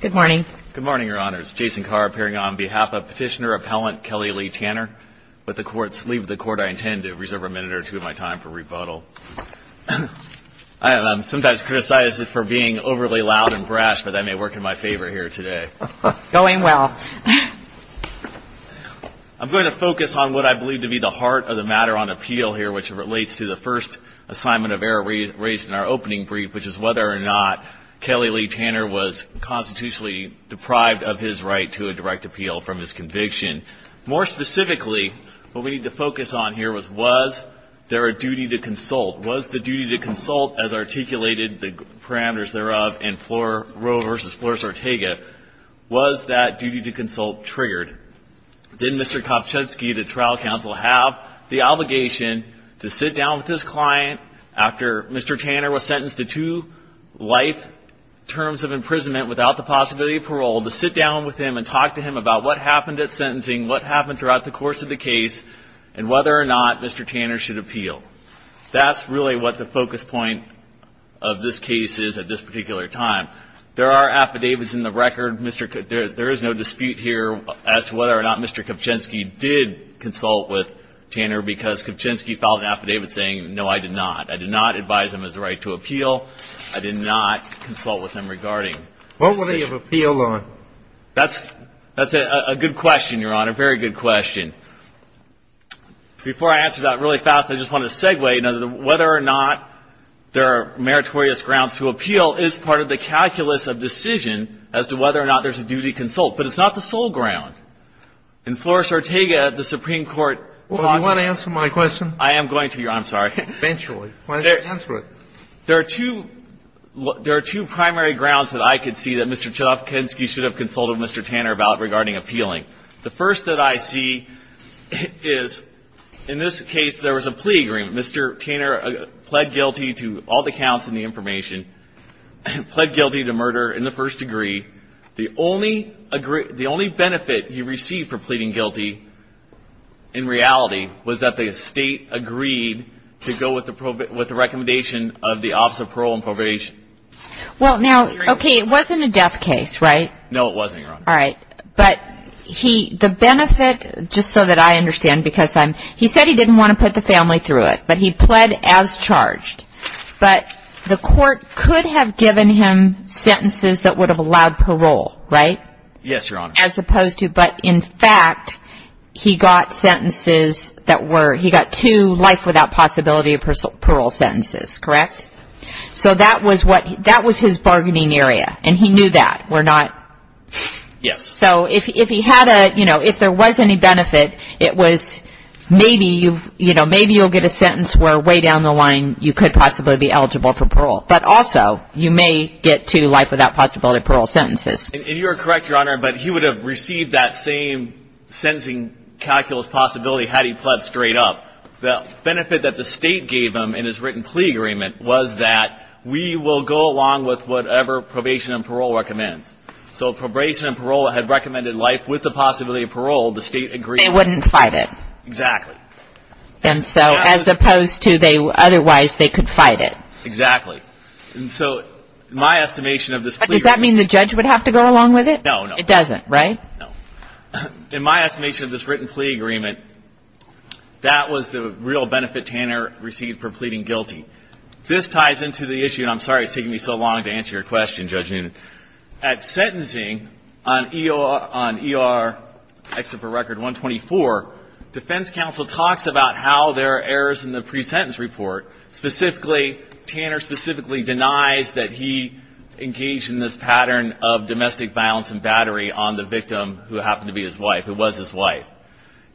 Good morning, Your Honors. Jason Carr, appearing on behalf of Petitioner Appellant Kelly Lee Tanner. With the Court's leave of the Court, I intend to reserve a minute or two of my time for rebuttal. I am sometimes criticized for being overly loud and brash, but that may work in my favor here today. Going well. I'm going to focus on what I believe to be the heart of the matter on appeal here, which relates to the first assignment of error raised in our opening brief, which is whether or not Kelly Lee Tanner was constitutionally deprived of his right to a direct appeal from his conviction. More specifically, what we need to focus on here was, was there a duty to consult? Was the duty to consult, as articulated, the parameters thereof in Roe v. Flores-Ortega, was that duty to consult triggered? Did Mr. Kopchinsky, the trial counsel, have the obligation to sit down with his client after Mr. Tanner was sentenced to two life terms of imprisonment without the possibility of parole, to sit down with him and talk to him about what happened at sentencing, what happened throughout the course of the case, and whether or not Mr. Tanner should appeal? That's really what the focus point of this case is at this particular time. There are affidavits in the record, Mr. – there is no dispute here as to whether or not Mr. Kopchinsky did consult with Tanner because Kopchinsky filed an affidavit saying, no, I did not. I did not advise him of his right to appeal. I did not consult with him regarding this issue. What would he have appealed on? That's a good question, Your Honor, a very good question. Before I answer that really fast, I just want to segue. Whether or not there are meritorious grounds to appeal is part of the calculus of decision as to whether or not there's a duty to consult. But it's not the sole ground. In Flores-Ortega, the Supreme Court – Well, do you want to answer my question? I am going to, Your Honor. I'm sorry. Eventually. Why don't you answer it? There are two primary grounds that I could see that Mr. Kopchinsky should have consulted Mr. Tanner about regarding appealing. The first that I see is, in this case, there was a plea agreement. Mr. Tanner pled guilty to all the counts in the information, pled guilty to murder in the first degree. The only benefit he received for pleading guilty, in reality, was that the state agreed to go with the recommendation of the Office of Parole and Probation. Well, now, okay, it wasn't a death case, right? No, it wasn't, Your Honor. All right. But the benefit, just so that I understand, because he said he didn't want to put the family through it, but he pled as charged. But the court could have given him sentences that would have allowed parole, right? Yes, Your Honor. As opposed to – but, in fact, he got sentences that were – he got two life without possibility of parole sentences, correct? So that was what – that was his bargaining area, and he knew that, were not – Yes. So if he had a – you know, if there was any benefit, it was maybe you've – you know, maybe you'll get a sentence where, way down the line, you could possibly be eligible for parole. But also, you may get two life without possibility of parole sentences. And you're correct, Your Honor, but he would have received that same sentencing calculus possibility had he pled straight up. The benefit that the state gave him in his written plea agreement was that we will go along with whatever probation and parole recommends. So if probation and parole had recommended life with the possibility of parole, the state agreed – They wouldn't fight it. Exactly. And so, as opposed to they – otherwise, they could fight it. Exactly. And so, my estimation of this plea – Does that mean the judge would have to go along with it? No, no. It doesn't, right? No. In my estimation of this written plea agreement, that was the real benefit Tanner received for pleading guilty. This ties into the issue – and I'm sorry it's taking me so long to answer your question, Judge Newton. At sentencing, on ER – on ER Excerpt for Record 124, defense counsel talks about how there are errors in the pre-sentence report. Specifically, Tanner specifically denies that he engaged in this pattern of domestic violence and battery on the victim who happened to be his wife, who was his wife.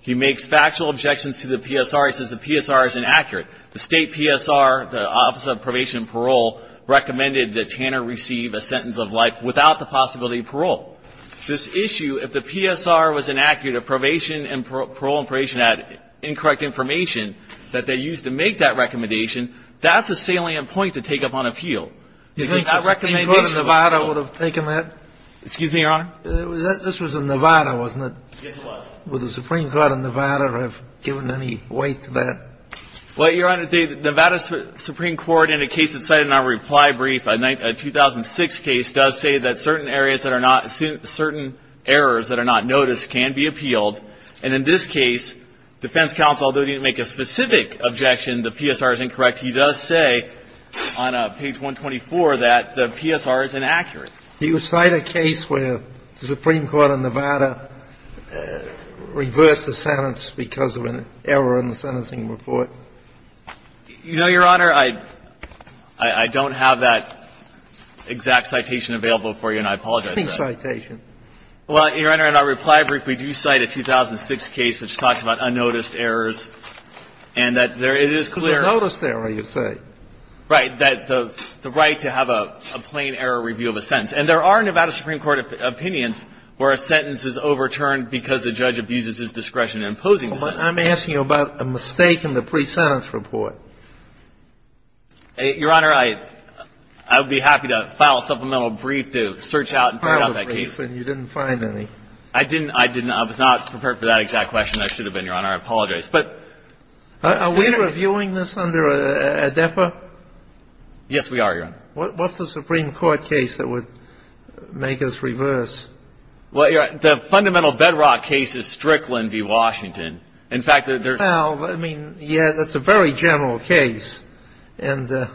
He makes factual objections to the PSR. He says the PSR is inaccurate. The state PSR, the Office of Probation and Parole, recommended that Tanner receive a sentence of life without the possibility of parole. This issue – if the PSR was inaccurate, if probation and parole information had incorrect information that they used to make that recommendation, that's a salient point to take up on appeal. You think the Supreme Court of Nevada would have taken that? Excuse me, Your Honor? This was in Nevada, wasn't it? Yes, it was. Would the Supreme Court of Nevada have given any weight to that? Well, Your Honor, the Nevada Supreme Court in a case that's cited in our reply brief, a 2006 case, does say that certain areas that are not – certain errors that are not noticed can be appealed. And in this case, defense counsel, although he didn't make a specific objection, the PSR is incorrect, he does say on page 124 that the PSR is inaccurate. Do you cite a case where the Supreme Court of Nevada reversed the sentence because of an error in the sentencing report? You know, Your Honor, I don't have that exact citation available for you, and I apologize for that. What citation? Well, Your Honor, in our reply brief, we do cite a 2006 case which talks about unnoticed errors and that there is clear – It's a noticed error, you say. Right. That the right to have a plain error review of a sentence. And there are Nevada Supreme Court opinions where a sentence is overturned because the judge abuses his discretion in imposing the sentence. I'm asking you about a mistake in the pre-sentence report. Your Honor, I would be happy to file a supplemental brief to search out and point out that case. I filed a brief and you didn't find any. I didn't. I was not prepared for that exact question. I should have been, Your Honor. I apologize. Are we reviewing this under ADEPA? Yes, we are, Your Honor. What's the Supreme Court case that would make us reverse? Well, Your Honor, the fundamental bedrock case is Strickland v. Washington. In fact, there's – Well, I mean, yeah, that's a very general case. And to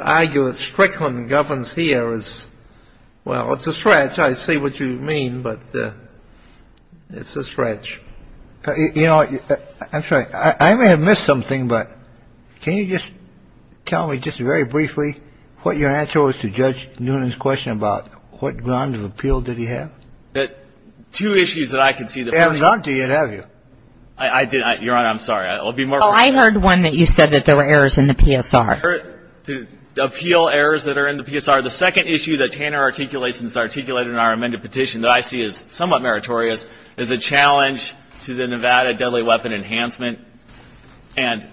argue that Strickland governs here is – well, it's a stretch. Sometimes I see what you mean, but it's a stretch. You know, I'm sorry. I may have missed something, but can you just tell me just very briefly what your answer was to Judge Noonan's question about what ground of appeal did he have? Two issues that I can see that – And none do you, have you? I did – Your Honor, I'm sorry. I'll be more – Well, I heard one that you said that there were errors in the PSR. Appeal errors that are in the PSR. Your Honor, the second issue that Tanner articulates and is articulated in our amended petition that I see as somewhat meritorious is a challenge to the Nevada deadly weapon enhancement. And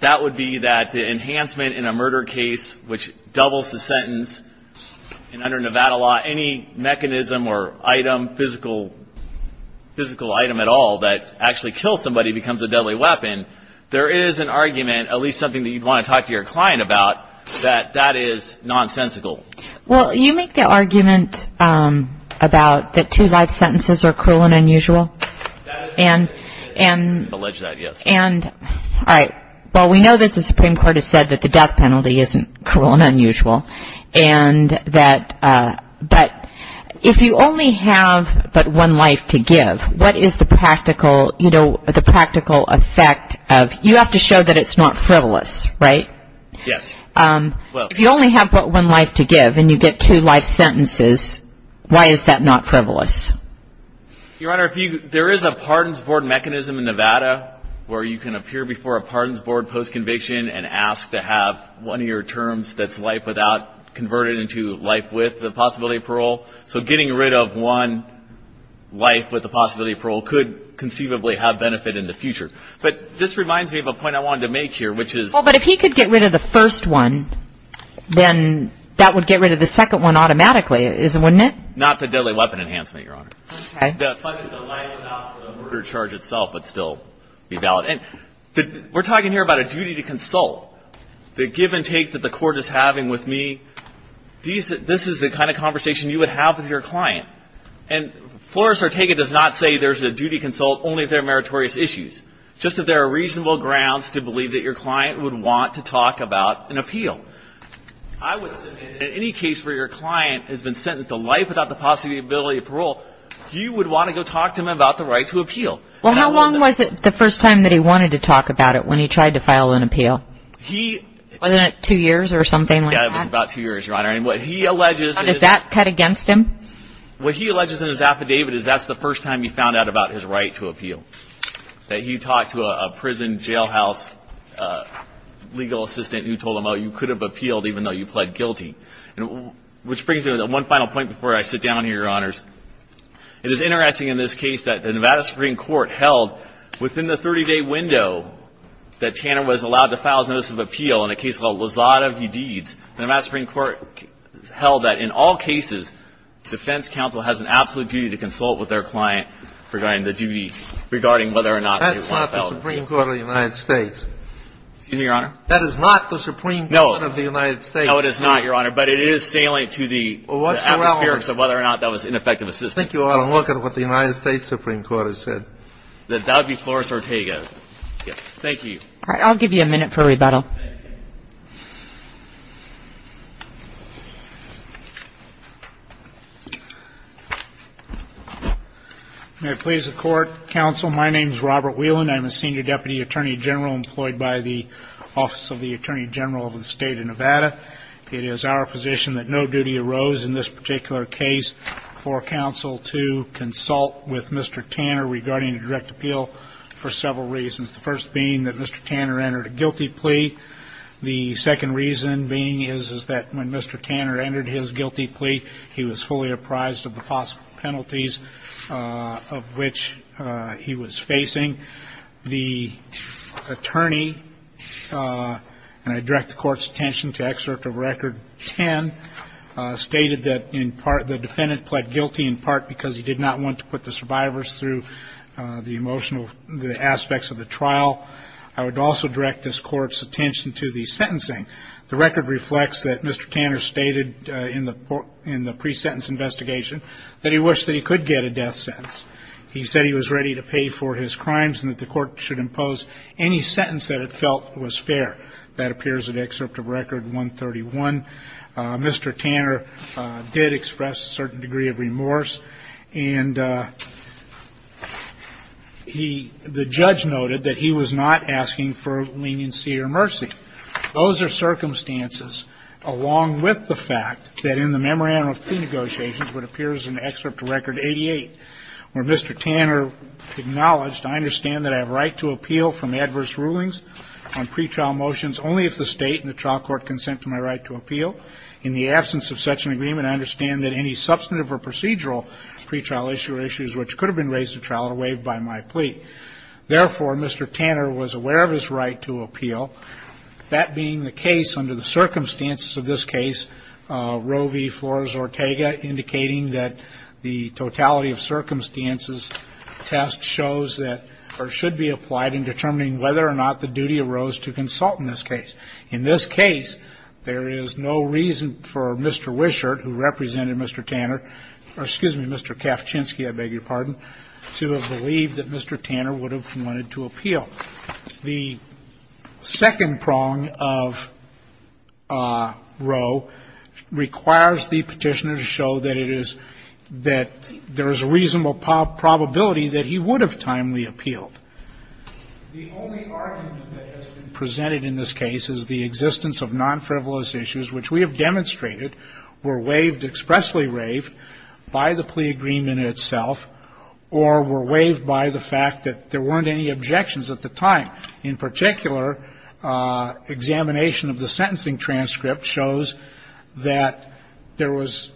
that would be that the enhancement in a murder case, which doubles the sentence, and under Nevada law, any mechanism or item, physical item at all, that actually kills somebody becomes a deadly weapon. There is an argument, at least something that you'd want to talk to your client about, that that is nonsensical. Well, you make the argument about that two life sentences are cruel and unusual. That is correct. And – Alleged that, yes. And – all right. Well, we know that the Supreme Court has said that the death penalty isn't cruel and unusual. And that – but if you only have but one life to give, what is the practical, you know, the practical effect of – you have to show that it's not frivolous, right? Yes. Well – If you only have but one life to give and you get two life sentences, why is that not frivolous? Your Honor, if you – there is a pardons board mechanism in Nevada where you can appear before a pardons board post-conviction and ask to have one of your terms that's life without converted into life with the possibility of parole. So getting rid of one life with the possibility of parole could conceivably have benefit in the future. But this reminds me of a point I wanted to make here, which is – Well, but if he could get rid of the first one, then that would get rid of the second one automatically, wouldn't it? Not the deadly weapon enhancement, Your Honor. Okay. The life without the murder charge itself would still be valid. And we're talking here about a duty to consult. The give and take that the court is having with me, this is the kind of conversation you would have with your client. And Flores-Ortega does not say there's a duty consult only if there are meritorious issues. Just that there are reasonable grounds to believe that your client would want to talk about an appeal. I would say that in any case where your client has been sentenced to life without the possibility of parole, you would want to go talk to him about the right to appeal. Well, how long was it the first time that he wanted to talk about it when he tried to file an appeal? He – Wasn't it two years or something like that? Yeah, it was about two years, Your Honor. And what he alleges – How does that cut against him? What he alleges in his affidavit is that's the first time he found out about his right to appeal, that he talked to a prison jailhouse legal assistant who told him, oh, you could have appealed even though you pled guilty. Which brings me to one final point before I sit down here, Your Honors. It is interesting in this case that the Nevada Supreme Court held within the 30-day window that Tanner was allowed to file his notice of appeal in a case called Lozada v. Deeds, the Nevada Supreme Court held that in all cases, defense counsel has an absolute duty to consult with their client regarding the duty, regarding whether or not they want to file an appeal. That's not the Supreme Court of the United States. Excuse me, Your Honor? That is not the Supreme Court of the United States. No, it is not, Your Honor. But it is salient to the atmospherics of whether or not that was ineffective assistance. Thank you, Your Honor. I'm looking at what the United States Supreme Court has said. That would be Flores-Ortega. Thank you. All right. I'll give you a minute for rebuttal. May it please the Court, Counsel, my name is Robert Whelan. I'm a senior deputy attorney general employed by the Office of the Attorney General of the State of Nevada. It is our position that no duty arose in this particular case for counsel to consult with Mr. Tanner regarding a direct appeal for several reasons, the first being that Mr. Tanner entered a guilty plea. The second reason being is that when Mr. Tanner entered his guilty plea, he was fully apprised of the possible penalties of which he was facing. The attorney, and I direct the Court's attention to excerpt of Record 10, stated that in part the defendant pled guilty in part because he did not want to put the survivors through the emotional aspects of the trial. I would also direct this Court's attention to the sentencing. The record reflects that Mr. Tanner stated in the pre-sentence investigation that he wished that he could get a death sentence. He said he was ready to pay for his crimes and that the Court should impose any sentence that it felt was fair. That appears in excerpt of Record 131. Mr. Tanner did express a certain degree of remorse. And he, the judge noted that he was not asking for leniency or mercy. Those are circumstances along with the fact that in the memorandum of plea negotiations what appears in excerpt of Record 88 where Mr. Tanner acknowledged, I understand that I have right to appeal from adverse rulings on pretrial motions only if the State and the trial court consent to my right to appeal. In the absence of such an agreement, I understand that any substantive or procedural pretrial issue or issues which could have been raised at trial are waived by my plea. Therefore, Mr. Tanner was aware of his right to appeal, that being the case under the circumstances of this case, Roe v. Flores-Ortega, indicating that the totality of circumstances test shows that or should be applied in determining whether or not the duty arose to consult in this case. In this case, there is no reason for Mr. Wishart, who represented Mr. Tanner or, excuse me, Mr. Kavchinsky, I beg your pardon, to have believed that Mr. Tanner would have wanted to appeal. The second prong of Roe requires the Petitioner to show that it is that there is a reasonable probability that he would have timely appealed. The only argument that has been presented in this case is the existence of non-frivolous issues, which we have demonstrated were waived, expressly waived, by the plea agreement itself or were waived by the fact that there weren't any objections at the time. In particular, examination of the sentencing transcript shows that there was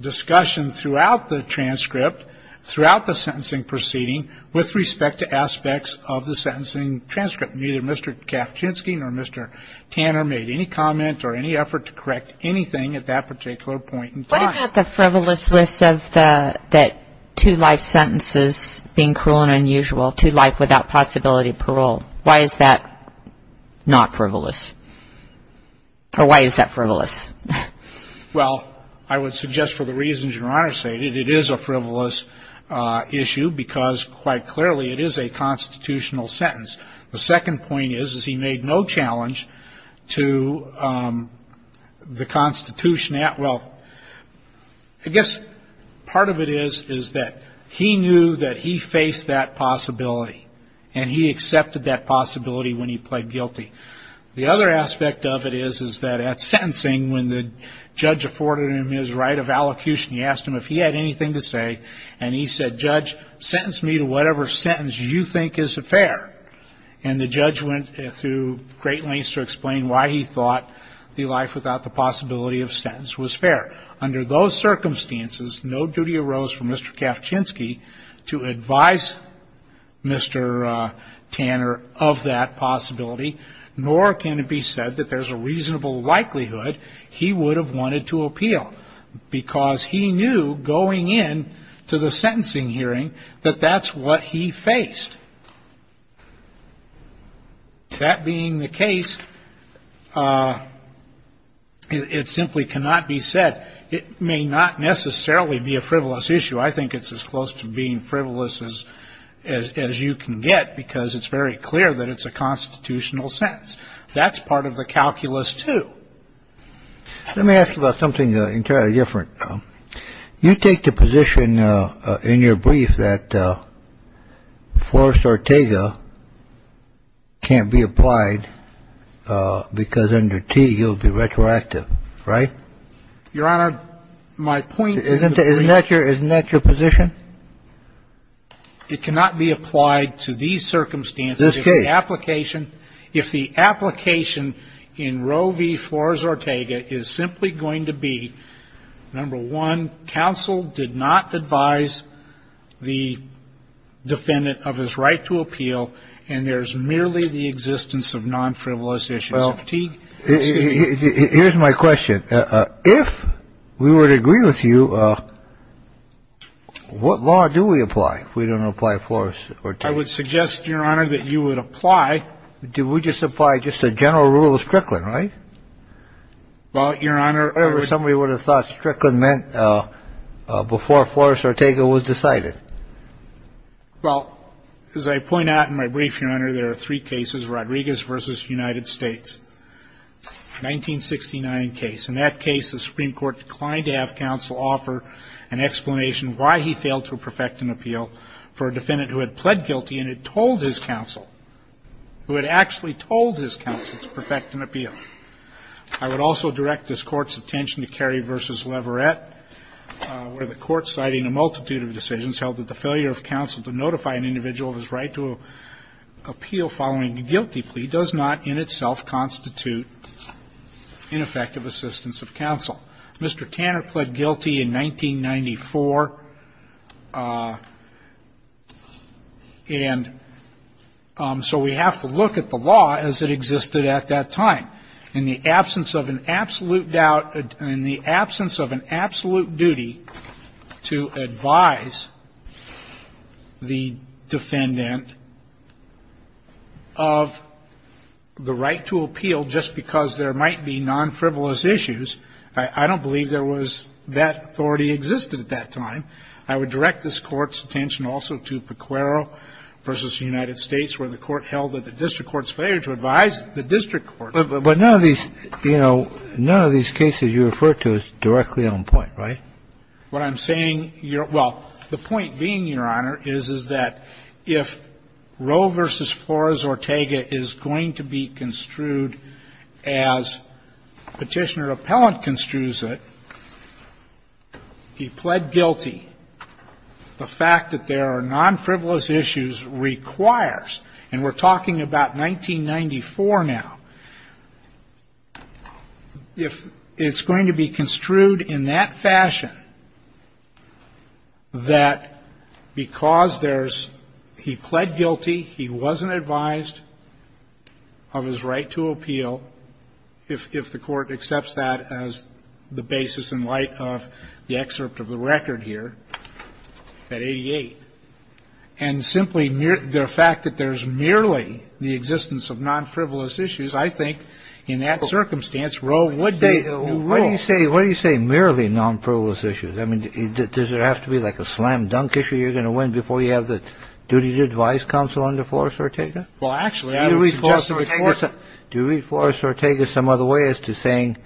discussion throughout the transcript, throughout the sentencing proceeding, with respect to aspects of the sentencing transcript. Neither Mr. Kavchinsky nor Mr. Tanner made any comment or any effort to correct anything at that particular point in time. What about the frivolous list of the two life sentences being cruel and unusual, two life without possibility of parole? Why is that not frivolous? Or why is that frivolous? Well, I would suggest, for the reasons Your Honor stated, it is a frivolous issue because, quite clearly, it is a constitutional sentence. The second point is, is he made no challenge to the Constitution. Well, I guess part of it is, is that he knew that he faced that possibility, and he accepted that possibility when he pled guilty. The other aspect of it is, is that at sentencing, when the judge afforded him his right of allocution, he asked him if he had anything to say, and he said, Judge, sentence me to whatever sentence you think is fair. And the judge went through great lengths to explain why he thought the life without the possibility of sentence was fair. Under those circumstances, no duty arose for Mr. Kavchinsky to advise Mr. Tanner of that possibility, nor can it be said that there's a reasonable likelihood he would have wanted to appeal, because he knew, going in to the sentencing hearing, that that's what he faced. That being the case, it simply cannot be said. It may not necessarily be a frivolous issue. I think it's as close to being frivolous as you can get, because it's very clear that it's a constitutional sentence. That's part of the calculus, too. Let me ask about something entirely different. You take the position in your brief that Forrest Ortega can't be applied because under Teague he'll be retroactive, right? Your Honor, my point is in the brief. Isn't that your position? It cannot be applied to these circumstances. This case. If the application in Roe v. Forrest Ortega is simply going to be, number one, counsel did not advise the defendant of his right to appeal, and there's merely the existence of nonfrivolous issues. Well, here's my question. If we were to agree with you, what law do we apply if we don't apply Forrest Ortega? I would suggest, Your Honor, that you would apply. Do we just apply just a general rule of Strickland, right? Well, Your Honor. Or somebody would have thought Strickland meant before Forrest Ortega was decided. Well, as I point out in my brief, Your Honor, there are three cases. Rodriguez v. United States, 1969 case. In that case, the Supreme Court declined to have counsel offer an explanation why he failed to perfect an appeal for a defendant who had pled guilty and had told his counsel, who had actually told his counsel to perfect an appeal. I would also direct this Court's attention to Carey v. Leverett, where the Court, citing a multitude of decisions, held that the failure of counsel to notify an individual of his right to appeal following a guilty plea does not in itself constitute ineffective assistance of counsel. Mr. Tanner pled guilty in 1994. And so we have to look at the law as it existed at that time. In the absence of an absolute doubt, in the absence of an absolute duty to advise the defendant of the right to appeal just because there might be non-frivolous issues, I don't believe there was that authority existed at that time. I would direct this Court's attention also to Pequero v. United States, where the cases you refer to is directly on point, right? What I'm saying, your – well, the point being, Your Honor, is, is that if Roe v. Flores Ortega is going to be construed as Petitioner Appellant construes it, he pled guilty. The fact that there are non-frivolous issues requires, and we're talking about 1994 now, if it's going to be construed in that fashion that because there's he pled guilty, he wasn't advised of his right to appeal, if the Court accepts that as the basis in light of the excerpt of the record here at 88, and simply the fact that there's merely the existence of non-frivolous issues, I think in that circumstance, Roe would be. Kennedy. What do you say, what do you say, merely non-frivolous issues? I mean, does it have to be like a slam-dunk issue you're going to win before you have the duty to advise counsel under Flores Ortega? Well, actually, I would suggest that Flores Ortega – Do you read Flores Ortega some other way as to saying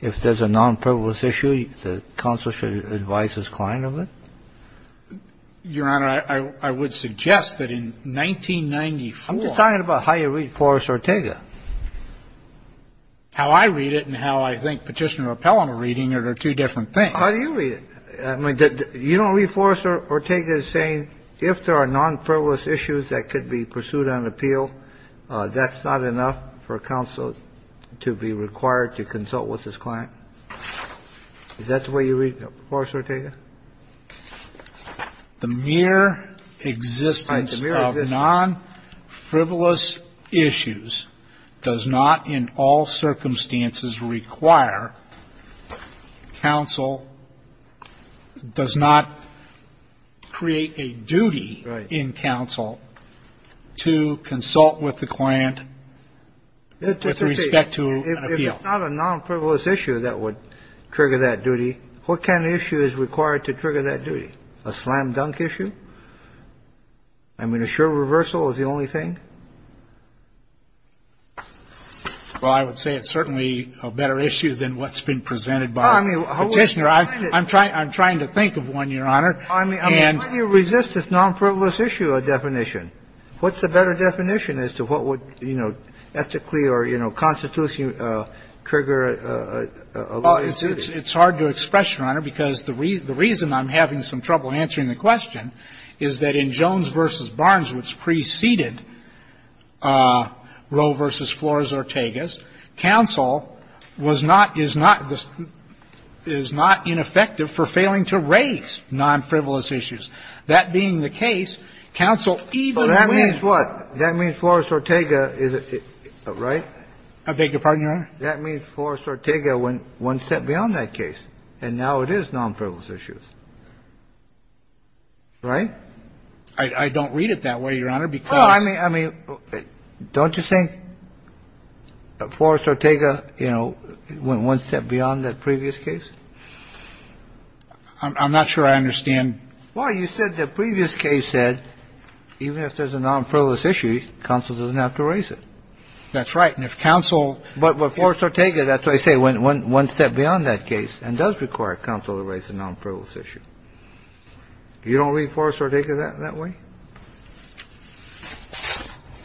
if there's a non-frivolous issue, the counsel should advise his client of it? Your Honor, I would suggest that in 1994 – I'm just talking about how you read Flores Ortega. How I read it and how I think Petitioner and Appellant are reading it are two different things. How do you read it? I mean, you don't read Flores Ortega as saying if there are non-frivolous issues that could be pursued on appeal, that's not enough for counsel to be required to consult with his client? Is that the way you read Flores Ortega? The mere existence of non-frivolous issues does not in all circumstances require counsel – does not create a duty in counsel to consult with the client with respect to an appeal. If it's not a non-frivolous issue that would trigger that duty, what kind of issue is required to trigger that duty? A slam-dunk issue? I mean, a sure reversal is the only thing? Well, I would say it's certainly a better issue than what's been presented by Petitioner. I'm trying to think of one, Your Honor. Why do you resist this non-frivolous issue definition? What's a better definition as to what would, you know, ethically or, you know, constitutionally trigger a law? Well, it's hard to express, Your Honor, because the reason I'm having some trouble answering the question is that in Jones v. Barnes, which preceded Roe v. Flores Ortega's, counsel was not – is not – is not ineffective for failing to raise non-frivolous issues. That being the case, counsel even when – So that means what? That means Flores Ortega is a – right? I beg your pardon, Your Honor? That means Flores Ortega went one step beyond that case. And now it is non-frivolous issues. Right? I don't read it that way, Your Honor, because – Well, I mean – I mean, don't you think Flores Ortega, you know, went one step beyond that previous case? I'm not sure I understand. Well, you said the previous case said even if there's a non-frivolous issue, counsel doesn't have to raise it. That's right. And if counsel – But Flores Ortega, that's what I say, went one step beyond that case and does require counsel to raise a non-frivolous issue. You don't read Flores Ortega that way?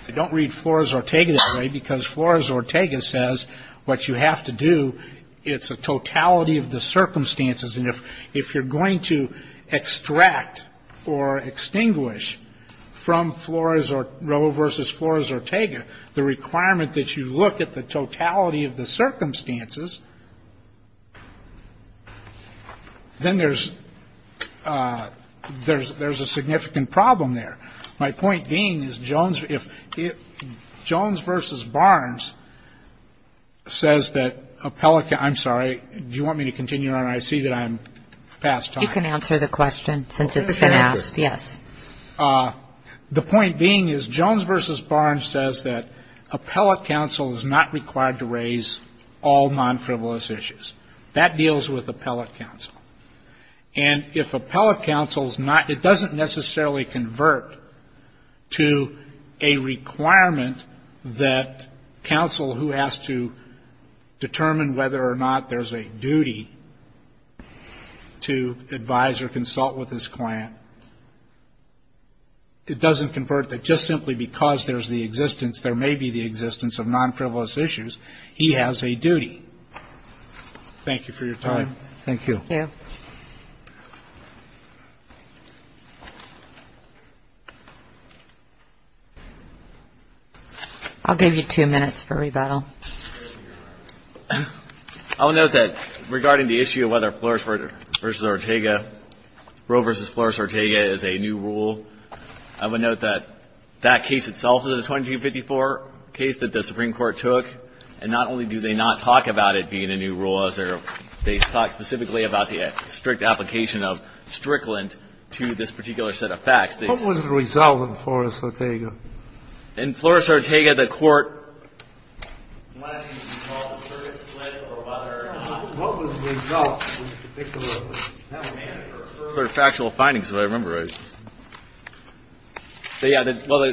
I don't read Flores Ortega that way because Flores Ortega says what you have to do, it's a totality of the circumstances. And if you're going to extract or extinguish from Flores or – Roe v. Flores Ortega the requirement that you look at the totality of the circumstances, then there's – there's a significant problem there. My point being is Jones – if Jones v. Barnes says that appellate – I'm sorry. Do you want me to continue on? I see that I'm past time. You can answer the question since it's been asked. Yes. The point being is Jones v. Barnes says that appellate counsel is not required to raise all non-frivolous issues. That deals with appellate counsel. And if appellate counsel is not – it doesn't necessarily convert to a requirement that counsel who has to determine whether or not there's a duty to advise or consult with his client, it doesn't convert that just simply because there's the existence, there may be the existence of non-frivolous issues, he has a duty. Thank you for your time. Thank you. Thank you. I'll give you two minutes for rebuttal. I would note that regarding the issue of whether Flores v. Ortega, Roe v. Flores Ortega is a new rule, I would note that that case itself is a 2254 case that the Supreme Court took, and not only do they not talk about it being a new rule as they're – they talk specifically about the strict application of strictly to this particular set of facts. What was the result of Flores Ortega? In Flores Ortega, the Court – Unless you recall the circuit split or whether or not – What was the result of the particular – Factual findings, if I remember right. Yeah, well,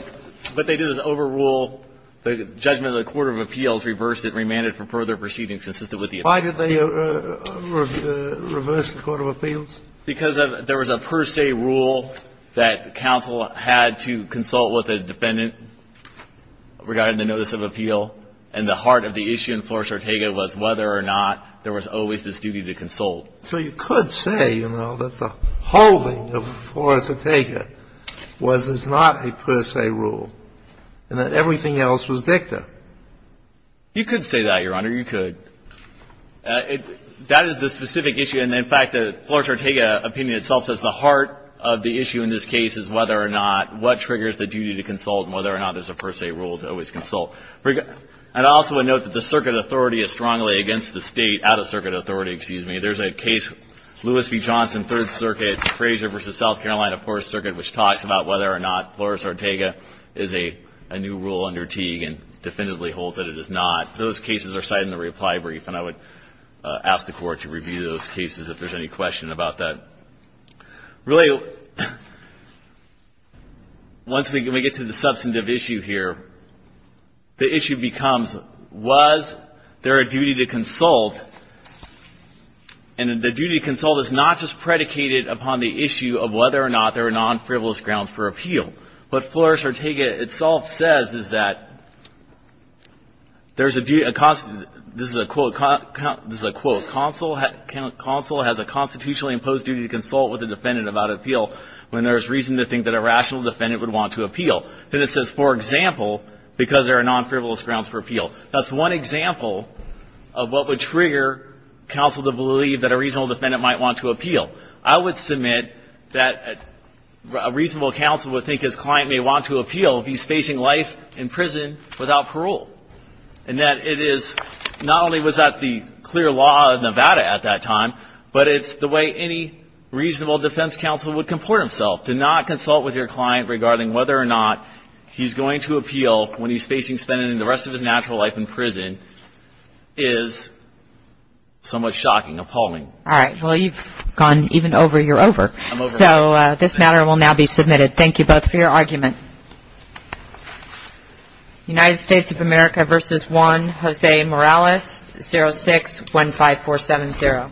what they did was overrule the judgment of the court of appeals, reversed it, remanded for further proceedings consistent with the – Why did they reverse the court of appeals? Because there was a per se rule that counsel had to consult with a defendant regarding the notice of appeal, and the heart of the issue in Flores Ortega was whether or not there was always this duty to consult. So you could say, you know, that the holding of Flores Ortega was not a per se rule and that everything else was dicta. You could say that, Your Honor. You could. That is the specific issue. And, in fact, the Flores Ortega opinion itself says the heart of the issue in this case is whether or not what triggers the duty to consult and whether or not there is a per se rule to always consult. And I also would note that the circuit authority is strongly against the State out-of-circuit authority, excuse me. There is a case, Lewis v. Johnson, Third Circuit, Frazier v. South Carolina, Fourth Circuit, which talks about whether or not Flores Ortega is a new rule under Teague and definitively holds that it is not. Those cases are cited in the reply brief, and I would ask the Court to review those cases if there's any question about that. Really, once we get to the substantive issue here, the issue becomes, was there a duty to consult? And the duty to consult is not just predicated upon the issue of whether or not there are non-frivolous grounds for appeal. What Flores Ortega itself says is that there's a duty, this is a quote, this is a quote, counsel has a constitutionally imposed duty to consult with a defendant about appeal when there is reason to think that a rational defendant would want to appeal. Then it says, for example, because there are non-frivolous grounds for appeal. That's one example of what would trigger counsel to believe that a reasonable defendant might want to appeal. I would submit that a reasonable counsel would think his client may want to appeal if he's facing life in prison without parole. And that it is, not only was that the clear law of Nevada at that time, but it's the way any reasonable defense counsel would comport himself. To not consult with your client regarding whether or not he's going to appeal when he's facing spending the rest of his natural life in prison is somewhat shocking, appalling. All right. Well, you've gone even over your over. So this matter will now be submitted. Thank you both for your argument. United States of America versus Juan Jose Morales, 06-15470. Thank you.